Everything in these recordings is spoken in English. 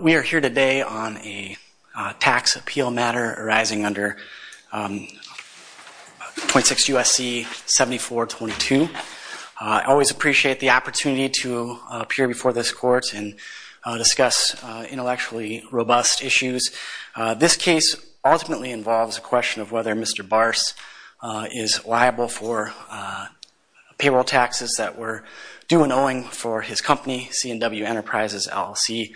We are here today on a tax appeal matter arising under 0.6 U.S.C. 7422. I always appreciate the opportunity to appear before this court and discuss intellectually robust issues. This case ultimately involves a question of whether Mr. Barse is liable for payroll taxes that were due and owing for his company, C&W Enterprises LLC.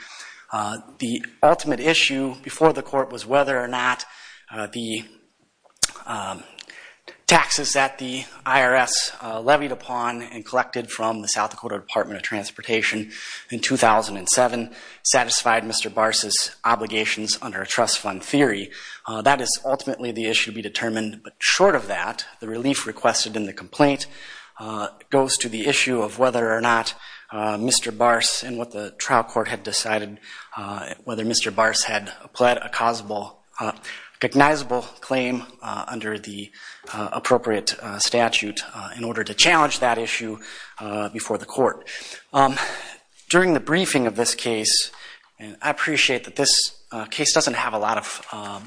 The ultimate issue before the court was whether or not the taxes that the IRS levied upon and collected from the South Dakota Department of Transportation in 2007 satisfied Mr. Barse's obligations under a trust fund theory. That is ultimately the issue to be determined, but short of that, the relief requested in the complaint goes to the issue of whether or not Mr. Barse and what the trial court had decided, whether Mr. Barse had pled a causable, recognizable claim under the appropriate statute in order to challenge that issue before the court. During the briefing of this case, and I appreciate that this case doesn't have a lot of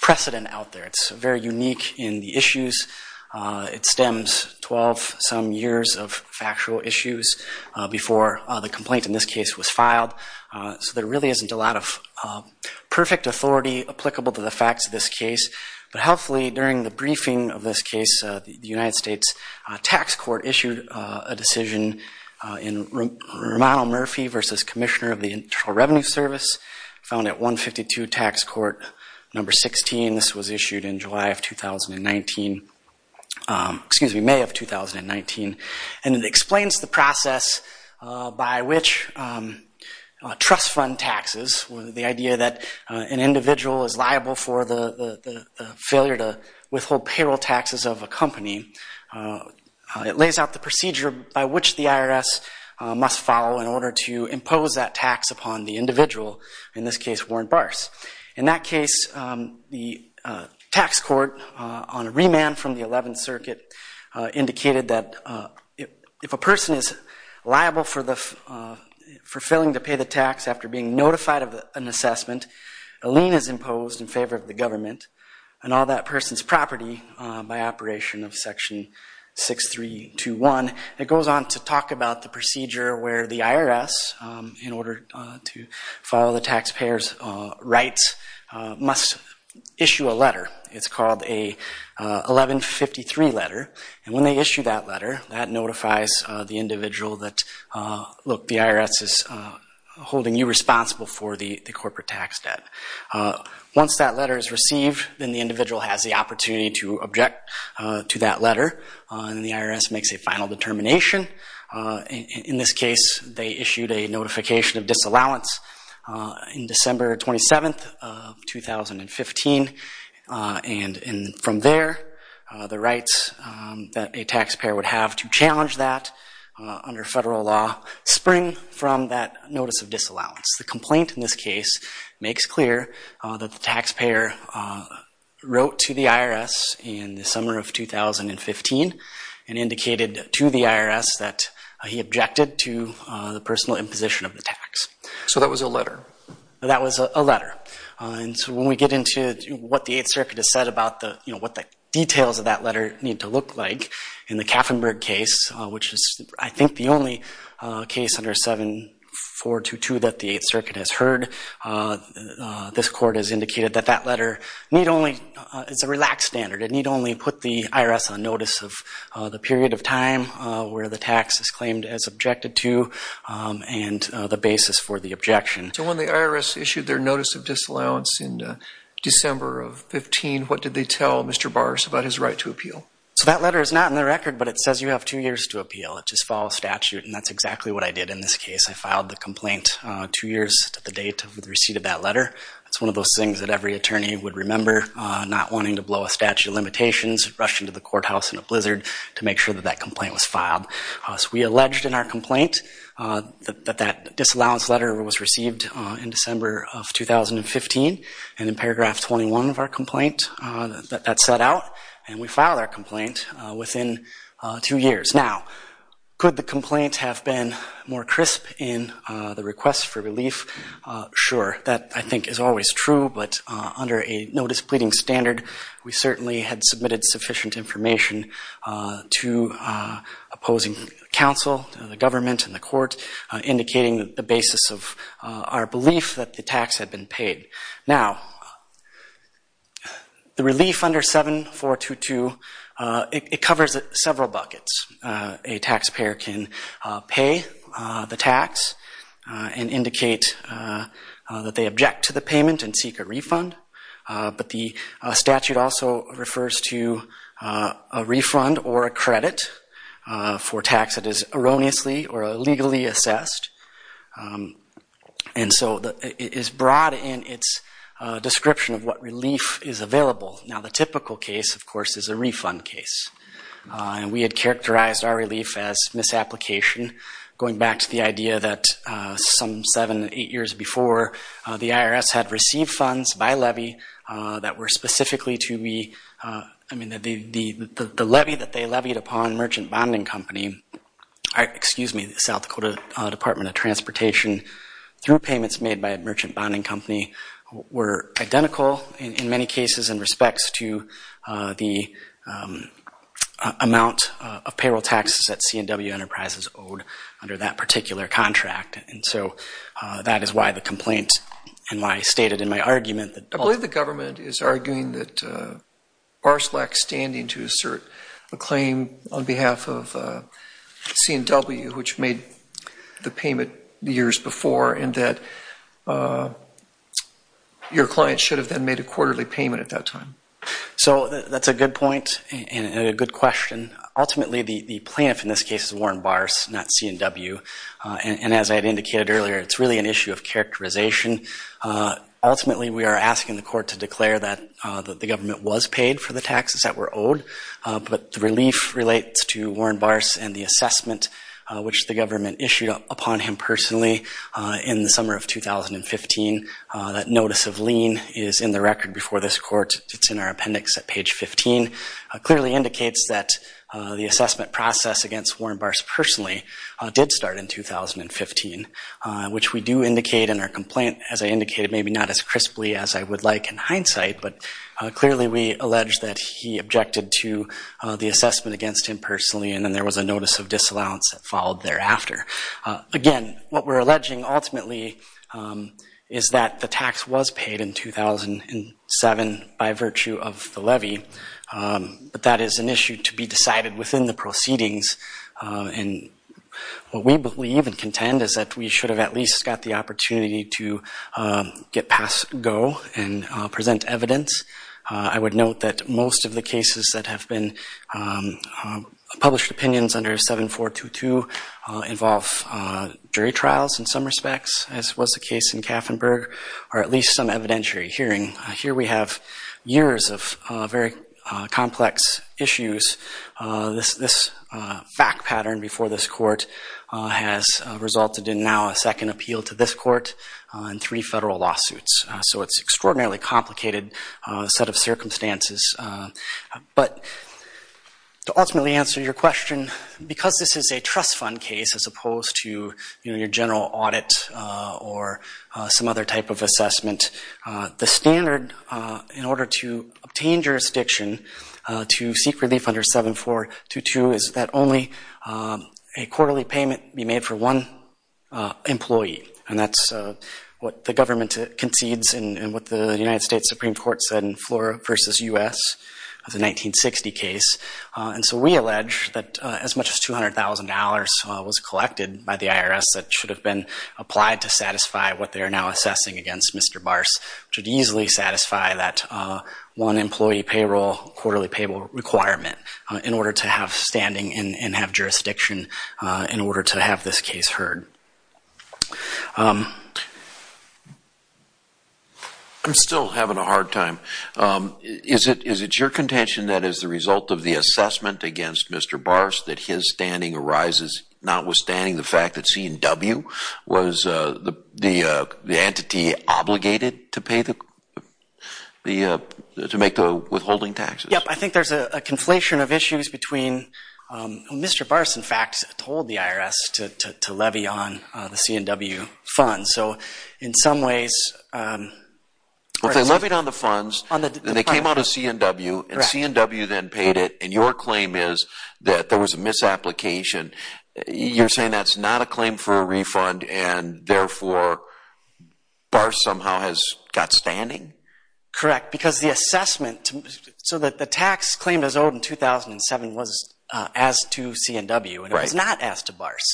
precedent out there. It's very unique in the issues. It stems 12-some years of factual issues before the complaint in this case was filed, so there really isn't a lot of perfect authority applicable to the facts of this case, but hopefully during the briefing of this case, the United States Tax Court issued a decision in Romano Murphy versus Commissioner of the Internal Revenue Service found at 152 Tax Court No. 16. This was issued in July of 2019, excuse me, May of 2019, and it explains the process by which trust fund taxes, the idea that an individual is liable for the failure to withhold payroll taxes of a company. It lays out the procedure by which the IRS must follow in order to impose that tax upon the individual, in this case Warren Barse. In that case, the tax court, on a remand from the 11th Circuit, indicated that if a person is liable for failing to pay the tax after being notified of an assessment, a lien is imposed in favor of the government and all that person's property by operation of Section 6321. It goes on to talk about the procedure where the IRS, in order to follow the taxpayer's rights, must issue a letter. It's called a 1153 letter, and when they issue that letter, that notifies the individual that, look, the IRS is holding you responsible for the corporate tax debt. Once that letter is received, then the individual has the opportunity to object to that letter and the IRS makes a final determination. In this case, they issued a notification of disallowance in December 27th of 2015, and from there, the rights that a taxpayer would have to challenge that under federal law spring from that notice of disallowance. The complaint in this case makes clear that the taxpayer wrote to the IRS in the summer of 2015 and indicated to the IRS that he objected to the personal imposition of the tax. So that was a letter? That was a letter. And so when we get into what the Eighth Circuit has said about what the details of that letter need to look like, in the Kaffenberg case, which is, I think, the only case under 7422 that the Eighth Circuit has heard, this Court has indicated that that letter need only – it's the IRS on notice of the period of time where the tax is claimed as objected to and the basis for the objection. So when the IRS issued their notice of disallowance in December of 2015, what did they tell Mr. Barrs about his right to appeal? So that letter is not in the record, but it says you have two years to appeal. It just follows statute, and that's exactly what I did in this case. I filed the complaint two years to the date of the receipt of that letter. That's one of those things that every attorney would remember, not wanting to blow a statute of limitations, rush into the courthouse in a blizzard to make sure that that complaint was filed. So we alleged in our complaint that that disallowance letter was received in December of 2015, and in paragraph 21 of our complaint that that's set out, and we filed our complaint within two years. Now, could the complaint have been more crisp in the request for relief? Sure. That, I think, is always true, but under a notice pleading standard, we certainly had submitted sufficient information to opposing counsel, the government, and the court, indicating the basis of our belief that the tax had been paid. Now, the relief under 7422, it covers several buckets. A taxpayer can pay the tax and indicate that they object to the payment and seek a refund, but the statute also refers to a refund or a credit for tax that is erroneously or illegally assessed, and so it is broad in its description of what relief is available. Now, the typical case, of course, is a refund case. And we had characterized our relief as misapplication, going back to the idea that some seven, eight years before, the IRS had received funds by levy that were specifically to be, I mean, the levy that they levied upon Merchant Bonding Company, excuse me, the South Dakota Department of Transportation, through payments made by Merchant Bonding Company, were identical in many cases in respects to the amount of payroll taxes that C&W Enterprises owed under that particular contract, and so that is why the complaint, and why I stated in my argument that— I believe the government is arguing that bars lack standing to assert a claim on behalf of C&W, which made the payment years before, and that your client should have then made a quarterly payment at that time. So that's a good point and a good question. Ultimately, the plaintiff in this case is Warren Bars, not C&W, and as I had indicated earlier, it's really an issue of characterization. Ultimately, we are asking the court to declare that the government was paid for the taxes that were owed, but the relief relates to Warren Bars and the assessment which the government issued upon him personally in the summer of 2015, that notice of lien is in the record before this court, it's in our appendix at page 15, clearly indicates that the assessment process against Warren Bars personally did start in 2015, which we do indicate in our complaint, as I indicated, maybe not as crisply as I would like in hindsight, but clearly we allege that he objected to the assessment against him personally, and then there was a notice of disallowance that followed thereafter. Again, what we're alleging, ultimately, is that the tax was paid in 2007 by virtue of the levy, but that is an issue to be decided within the proceedings, and what we believe and contend is that we should have at least got the opportunity to get past go and present evidence. I would note that most of the cases that have been published opinions under 7422 involve jury trials in some respects, as was the case in Kaffenberg, or at least some evidentiary hearing. Here we have years of very complex issues. This fact pattern before this court has resulted in now a second appeal to this court and three primarily complicated set of circumstances. But to ultimately answer your question, because this is a trust fund case as opposed to your general audit or some other type of assessment, the standard in order to obtain jurisdiction to seek relief under 7422 is that only a quarterly payment be made for one employee, and that's what the government concedes and what the United States Supreme Court said in Flora v. U.S. of the 1960 case. And so we allege that as much as $200,000 was collected by the IRS that should have been applied to satisfy what they are now assessing against Mr. Bars, which would easily satisfy that one employee payroll, quarterly payable requirement in order to have standing and have jurisdiction in order to have this case heard. I'm still having a hard time. Is it your contention that as a result of the assessment against Mr. Bars that his standing arises notwithstanding the fact that C&W was the entity obligated to make the withholding taxes? Yes, I think there's a conflation of issues between Mr. Bars in fact told the IRS to levy on the C&W funds. So in some ways... Well, they levied on the funds, and they came out of C&W, and C&W then paid it, and your claim is that there was a misapplication. You're saying that's not a claim for a refund and therefore Bars somehow has got standing? Correct. Because the assessment... So the tax claimed as owed in 2007 was as to C&W, and it was not as to Bars.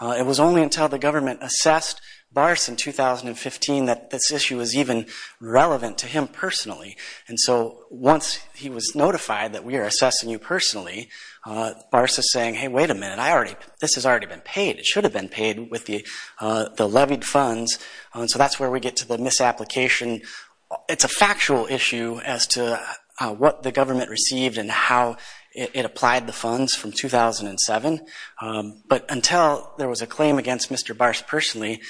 It was only until the government assessed Bars in 2015 that this issue was even relevant to him personally. And so once he was notified that we are assessing you personally, Bars is saying, hey, wait a minute. I already... This has already been paid. It should have been paid with the levied funds. So that's where we get to the misapplication. It's a factual issue as to what the government received and how it applied the funds from 2007, but until there was a claim against Mr. Bars personally,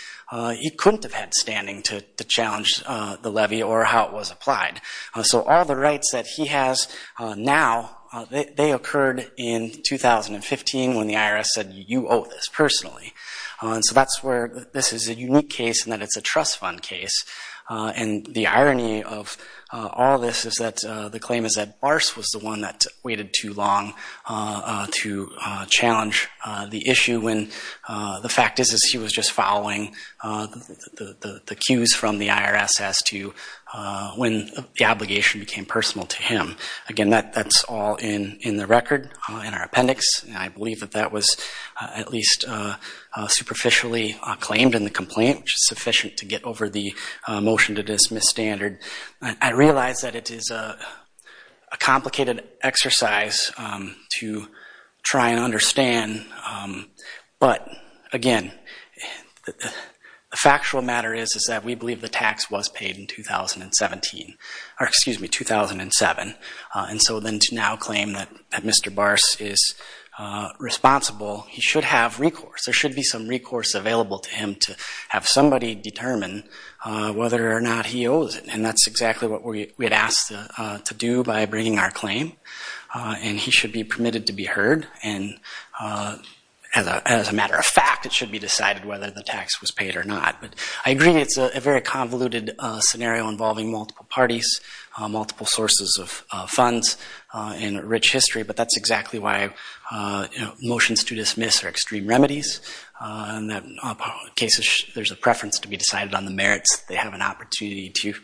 he couldn't have had standing to challenge the levy or how it was applied. So all the rights that he has now, they occurred in 2015 when the IRS said, you owe this personally. So that's where this is a unique case in that it's a trust fund case. And the irony of all this is that the claim is that Bars was the one that waited too long to challenge the issue when the fact is he was just following the cues from the IRS as to when the obligation became personal to him. Again, that's all in the record, in our appendix. I believe that that was at least superficially claimed in the complaint, which is sufficient to get over the motion to dismiss standard. I realize that it is a complicated exercise to try and understand, but again, the factual matter is that we believe the tax was paid in 2017, or excuse me, 2007. And so then to now claim that Mr. Bars is responsible, he should have recourse. There should be some recourse available to him to have somebody determine whether or not he owes it. And that's exactly what we had asked to do by bringing our claim, and he should be permitted to be heard. And as a matter of fact, it should be decided whether the tax was paid or not. I agree it's a very convoluted scenario involving multiple parties, multiple sources of funds, and rich history, but that's exactly why motions to dismiss are extreme remedies. In that case, there's a preference to be decided on the merits. They have an opportunity to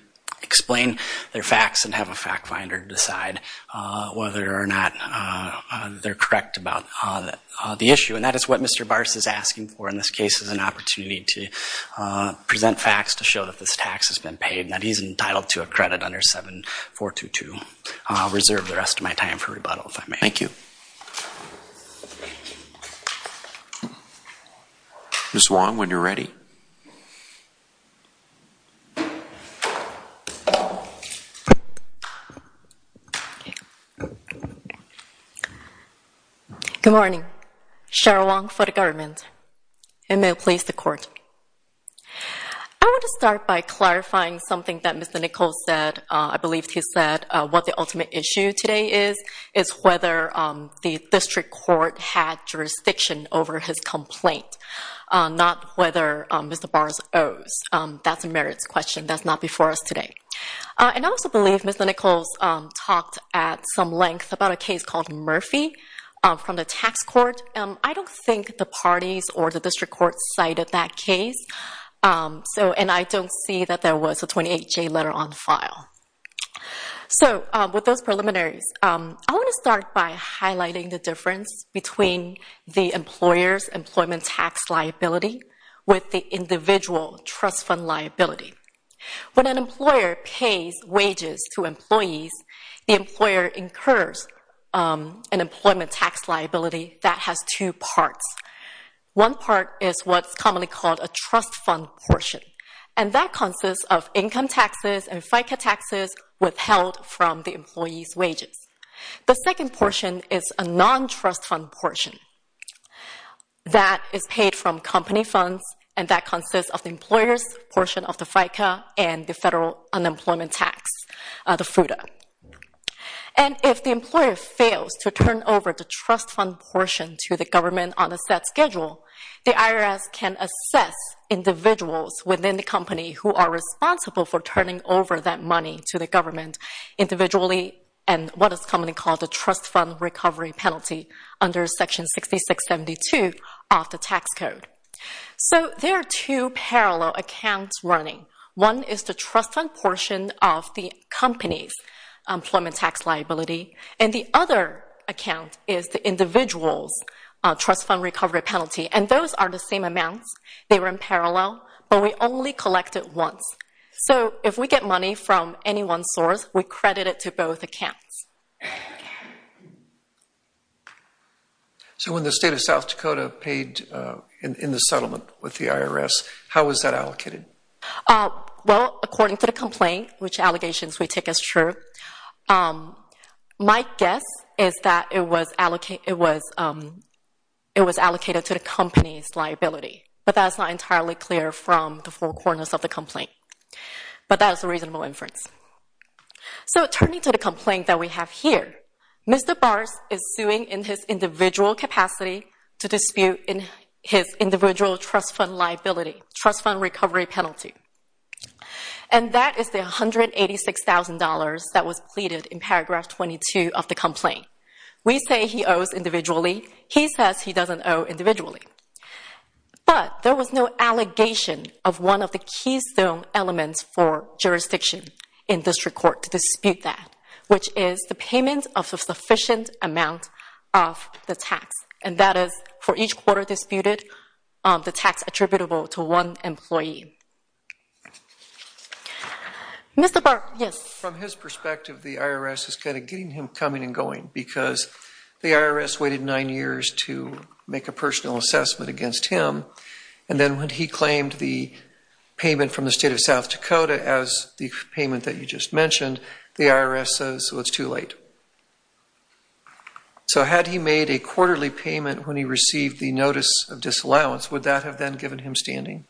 explain their facts and have a fact finder decide whether or not they're correct about the issue. And that is what Mr. Bars is asking for in this case, is an opportunity to present facts to show that this tax has been paid and that he's entitled to a credit under 7422. I'll reserve the rest of my time for rebuttal, if I may. Thank you. Ms. Wong, when you're ready. Good morning, Cheryl Wong for the government, and may it please the court. I want to start by clarifying something that Mr. Nichols said, I believe he said what the ultimate issue today is, is whether the district court had jurisdiction over his complaint. Not whether Mr. Bars owes. That's a merits question. That's not before us today. And I also believe Ms. Nichols talked at some length about a case called Murphy from the tax court. I don't think the parties or the district court cited that case, and I don't see that there was a 28-J letter on file. So with those preliminaries, I want to start by highlighting the difference between the employer's employment tax liability with the individual trust fund liability. When an employer pays wages to employees, the employer incurs an employment tax liability that has two parts. One part is what's commonly called a trust fund portion, and that consists of income taxes and FICA taxes withheld from the employee's wages. The second portion is a non-trust fund portion. That is paid from company funds, and that consists of the employer's portion of the FICA and the federal unemployment tax, the FUTA. And if the employer fails to turn over the trust fund portion to the government on a set schedule, the IRS can assess individuals within the company who are responsible for turning over that money to the government individually, and what is commonly called trust fund recovery penalty under Section 6672 of the tax code. So there are two parallel accounts running. One is the trust fund portion of the company's employment tax liability, and the other account is the individual's trust fund recovery penalty, and those are the same amounts. They run parallel, but we only collect it once. So if we get money from any one source, we credit it to both accounts. So when the state of South Dakota paid in the settlement with the IRS, how was that allocated? Well, according to the complaint, which allegations we take as true, my guess is that it was allocated to the company's liability, but that's not entirely clear from the four corners of the complaint. But that is a reasonable inference. So turning to the complaint that we have here, Mr. Bars is suing in his individual capacity to dispute his individual trust fund liability, trust fund recovery penalty, and that is the $186,000 that was pleaded in paragraph 22 of the complaint. We say he owes individually. He says he doesn't owe individually, but there was no allegation of one of the keystone elements for jurisdiction in district court to dispute that, which is the payment of a sufficient amount of the tax, and that is for each quarter disputed, the tax attributable to one employee. Mr. Bars, yes. From his perspective, the IRS is kind of getting him coming and going because the IRS waited nine years to make a personal assessment against him, and then when he claimed the state of South Dakota as the payment that you just mentioned, the IRS says, well, it's too late. So had he made a quarterly payment when he received the notice of disallowance, would that have then given him standing?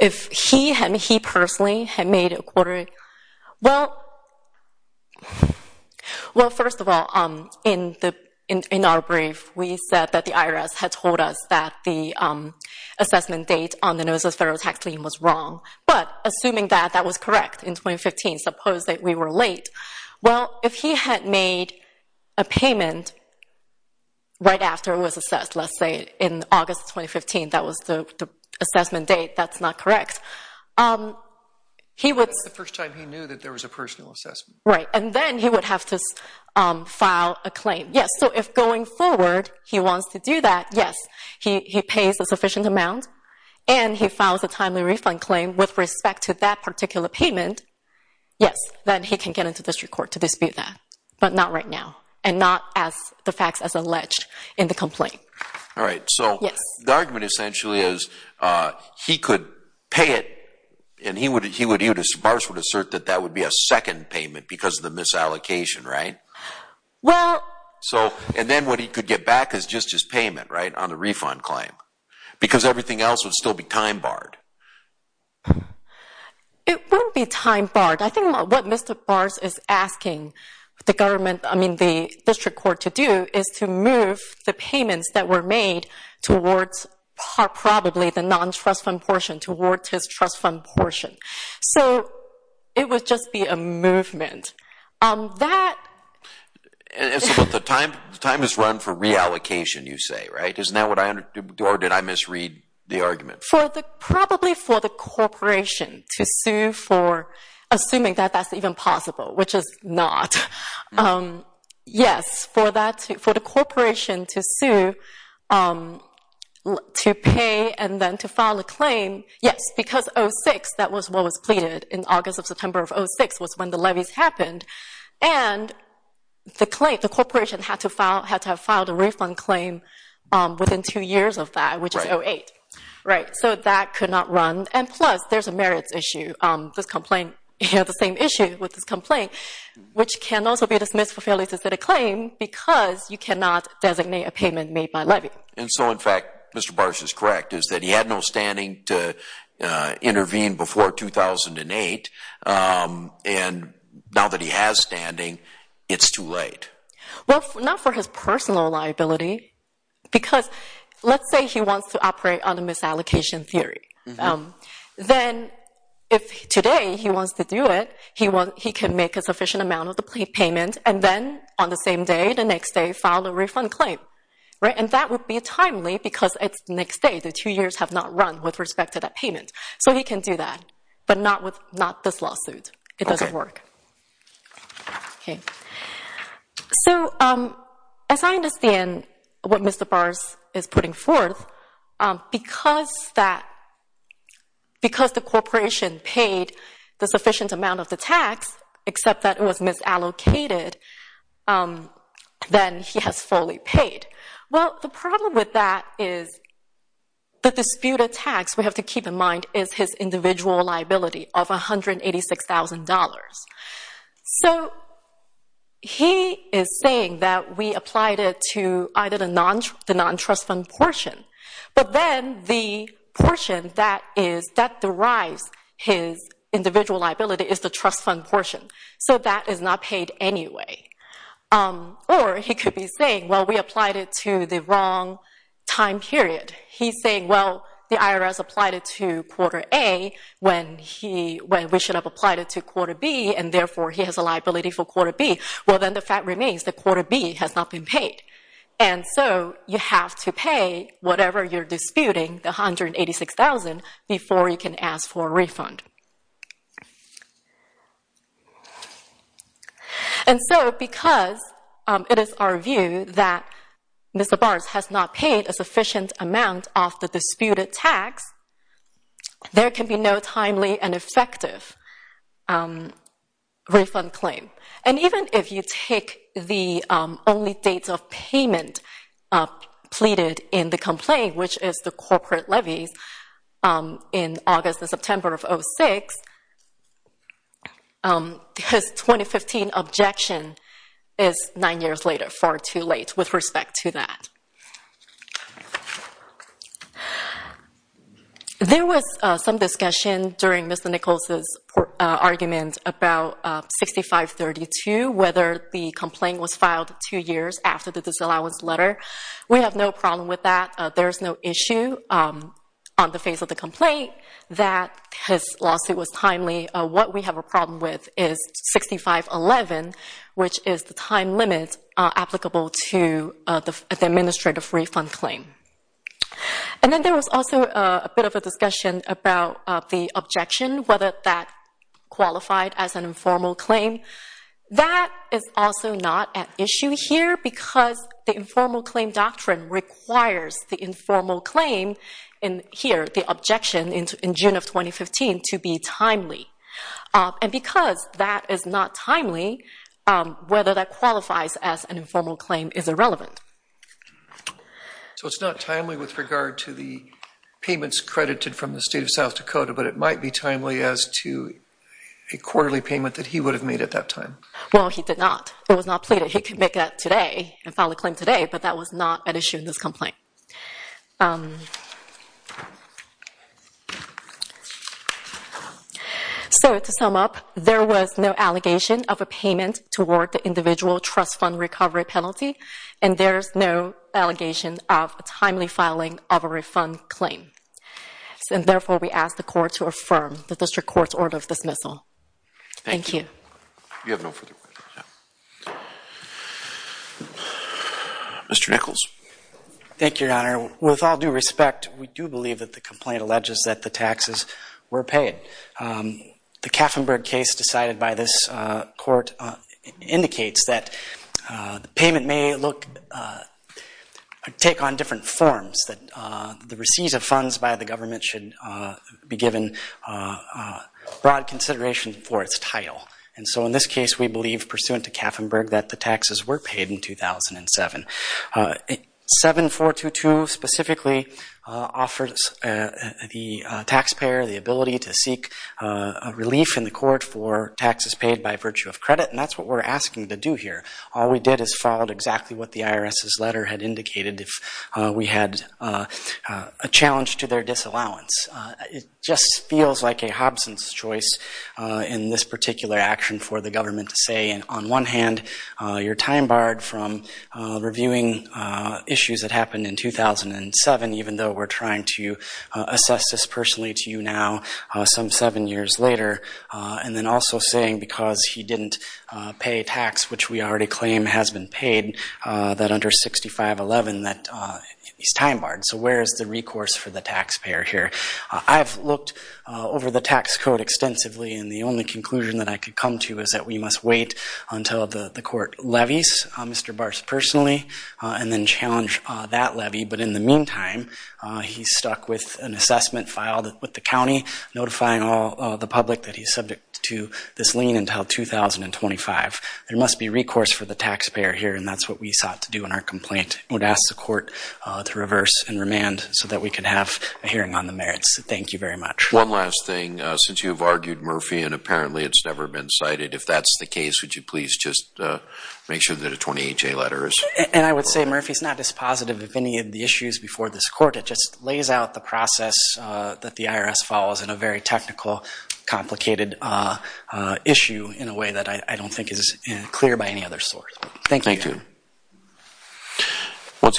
If he personally had made a quarterly, well, first of all, in our brief, we said that the was wrong. But assuming that that was correct in 2015, suppose that we were late, well, if he had made a payment right after it was assessed, let's say in August 2015, that was the assessment date, that's not correct. That's the first time he knew that there was a personal assessment. Right. And then he would have to file a claim. Yes. So if going forward he wants to do that, yes, he pays a sufficient amount, and he files a timely refund claim with respect to that particular payment, yes, then he can get into district court to dispute that. But not right now. And not as the facts as alleged in the complaint. All right. So the argument essentially is he could pay it, and he would, he would, he would, his boss would assert that that would be a second payment because of the misallocation, right? Well, so, and then what he could get back is just his payment, right, on the refund claim because everything else would still be time barred. It wouldn't be time barred. I think what Mr. Bars is asking the government, I mean, the district court to do is to move the payments that were made towards probably the non-trust fund portion, towards his trust fund portion. So it would just be a movement. That. And so the time, the time is run for reallocation, you say, right? Or did I misread the argument? For the, probably for the corporation to sue for, assuming that that's even possible, which is not. Yes, for that, for the corporation to sue, to pay and then to file a claim. Yes, because 06, that was what was pleaded in August of September of 06 was when the levies happened. And the claim, the corporation had to file, had to have filed a refund claim within two years of that, which is 08, right? So that could not run. And plus there's a merits issue. This complaint, you know, the same issue with this complaint, which can also be dismissed for fairly specific claim because you cannot designate a payment made by levy. And so, in fact, Mr. Bars is correct, is that he had no standing to intervene before 2008. And now that he has standing, it's too late. Well, not for his personal liability, because let's say he wants to operate on a misallocation theory. Then if today he wants to do it, he can make a sufficient amount of the payment. And then on the same day, the next day, file a refund claim, right? And that would be timely because it's next day. The two years have not run with respect to that payment. So he can do that, but not with not this lawsuit. It doesn't work. So, as I understand what Mr. Bars is putting forth, because that, because the corporation paid the sufficient amount of the tax, except that it was misallocated, then he has fully paid. Well, the problem with that is the disputed tax, we have to keep in mind, is his individual liability of $186,000. So he is saying that we applied it to either the non-trust fund portion, but then the portion that is, that derives his individual liability is the trust fund portion. So that is not paid anyway. Or he could be saying, well, we applied it to the wrong time period. He's saying, well, the IRS applied it to quarter A when he, when we should have applied it to quarter B, and therefore he has a liability for quarter B. Well, then the fact remains that quarter B has not been paid. And so you have to pay whatever you're disputing, the $186,000, before you can ask for a refund. And so, because it is our view that Mr. Barnes has not paid a sufficient amount of the disputed tax, there can be no timely and effective refund claim. And even if you take the only dates of payment pleaded in the complaint, which is the corporate 2006, his 2015 objection is nine years later, far too late with respect to that. There was some discussion during Mr. Nichols' argument about 6532, whether the complaint was filed two years after the disallowance letter. We have no problem with that. There's no issue on the face of the complaint that his lawsuit was timely. What we have a problem with is 6511, which is the time limit applicable to the administrative refund claim. And then there was also a bit of a discussion about the objection, whether that qualified as an informal claim. That is also not at issue here, because the informal claim doctrine requires the informal claim in here, the objection in June of 2015, to be timely. And because that is not timely, whether that qualifies as an informal claim is irrelevant. So it's not timely with regard to the payments credited from the state of South Dakota, but it might be timely as to a quarterly payment that he would have made at that time. Well, he did not. It was not pleaded. He could make that today and file a claim today, but that was not an issue in this complaint. So to sum up, there was no allegation of a payment toward the individual trust fund recovery penalty, and there's no allegation of a timely filing of a refund claim. And therefore, we ask the court to affirm the district court's order of dismissal. Thank you. Mr. Nichols. Thank you, Your Honor. With all due respect, we do believe that the complaint alleges that the taxes were paid. The Kaffenberg case decided by this court indicates that the payment may look – take on different forms, that the receipts of funds by the government should be given broad consideration for its title. And so in this case, we believe, pursuant to Kaffenberg, that the taxes were paid in 2007. 7422 specifically offers the taxpayer the ability to seek a relief in the court for taxes paid by virtue of credit, and that's what we're asking to do here. All we did is followed exactly what the IRS's letter had indicated if we had a challenge to their disallowance. It just feels like a Hobson's choice in this particular action for the government to say, on one hand, you're time barred from reviewing issues that happened in 2007, even though we're trying to assess this personally to you now some seven years later, and then also saying because he didn't pay tax, which we already claim has been paid, that under 6511, that he's time barred. So where is the recourse for the taxpayer here? I've looked over the tax code extensively, and the only conclusion that I could come to is that we must wait until the court levies Mr. Bars personally, and then challenge that levy. But in the meantime, he's stuck with an assessment filed with the county notifying the public that he's subject to this lien until 2025. There must be recourse for the taxpayer here, and that's what we sought to do in our complaint. I would ask the court to reverse and remand so that we could have a hearing on the merits. Thank you very much. One last thing. Since you've argued Murphy, and apparently it's never been cited, if that's the case, would you please just make sure that a 28-J letter is? And I would say Murphy's not dispositive of any of the issues before this court. It just lays out the process that the IRS follows in a very technical, complicated issue in a way that I don't think is clear by any other source. Once again.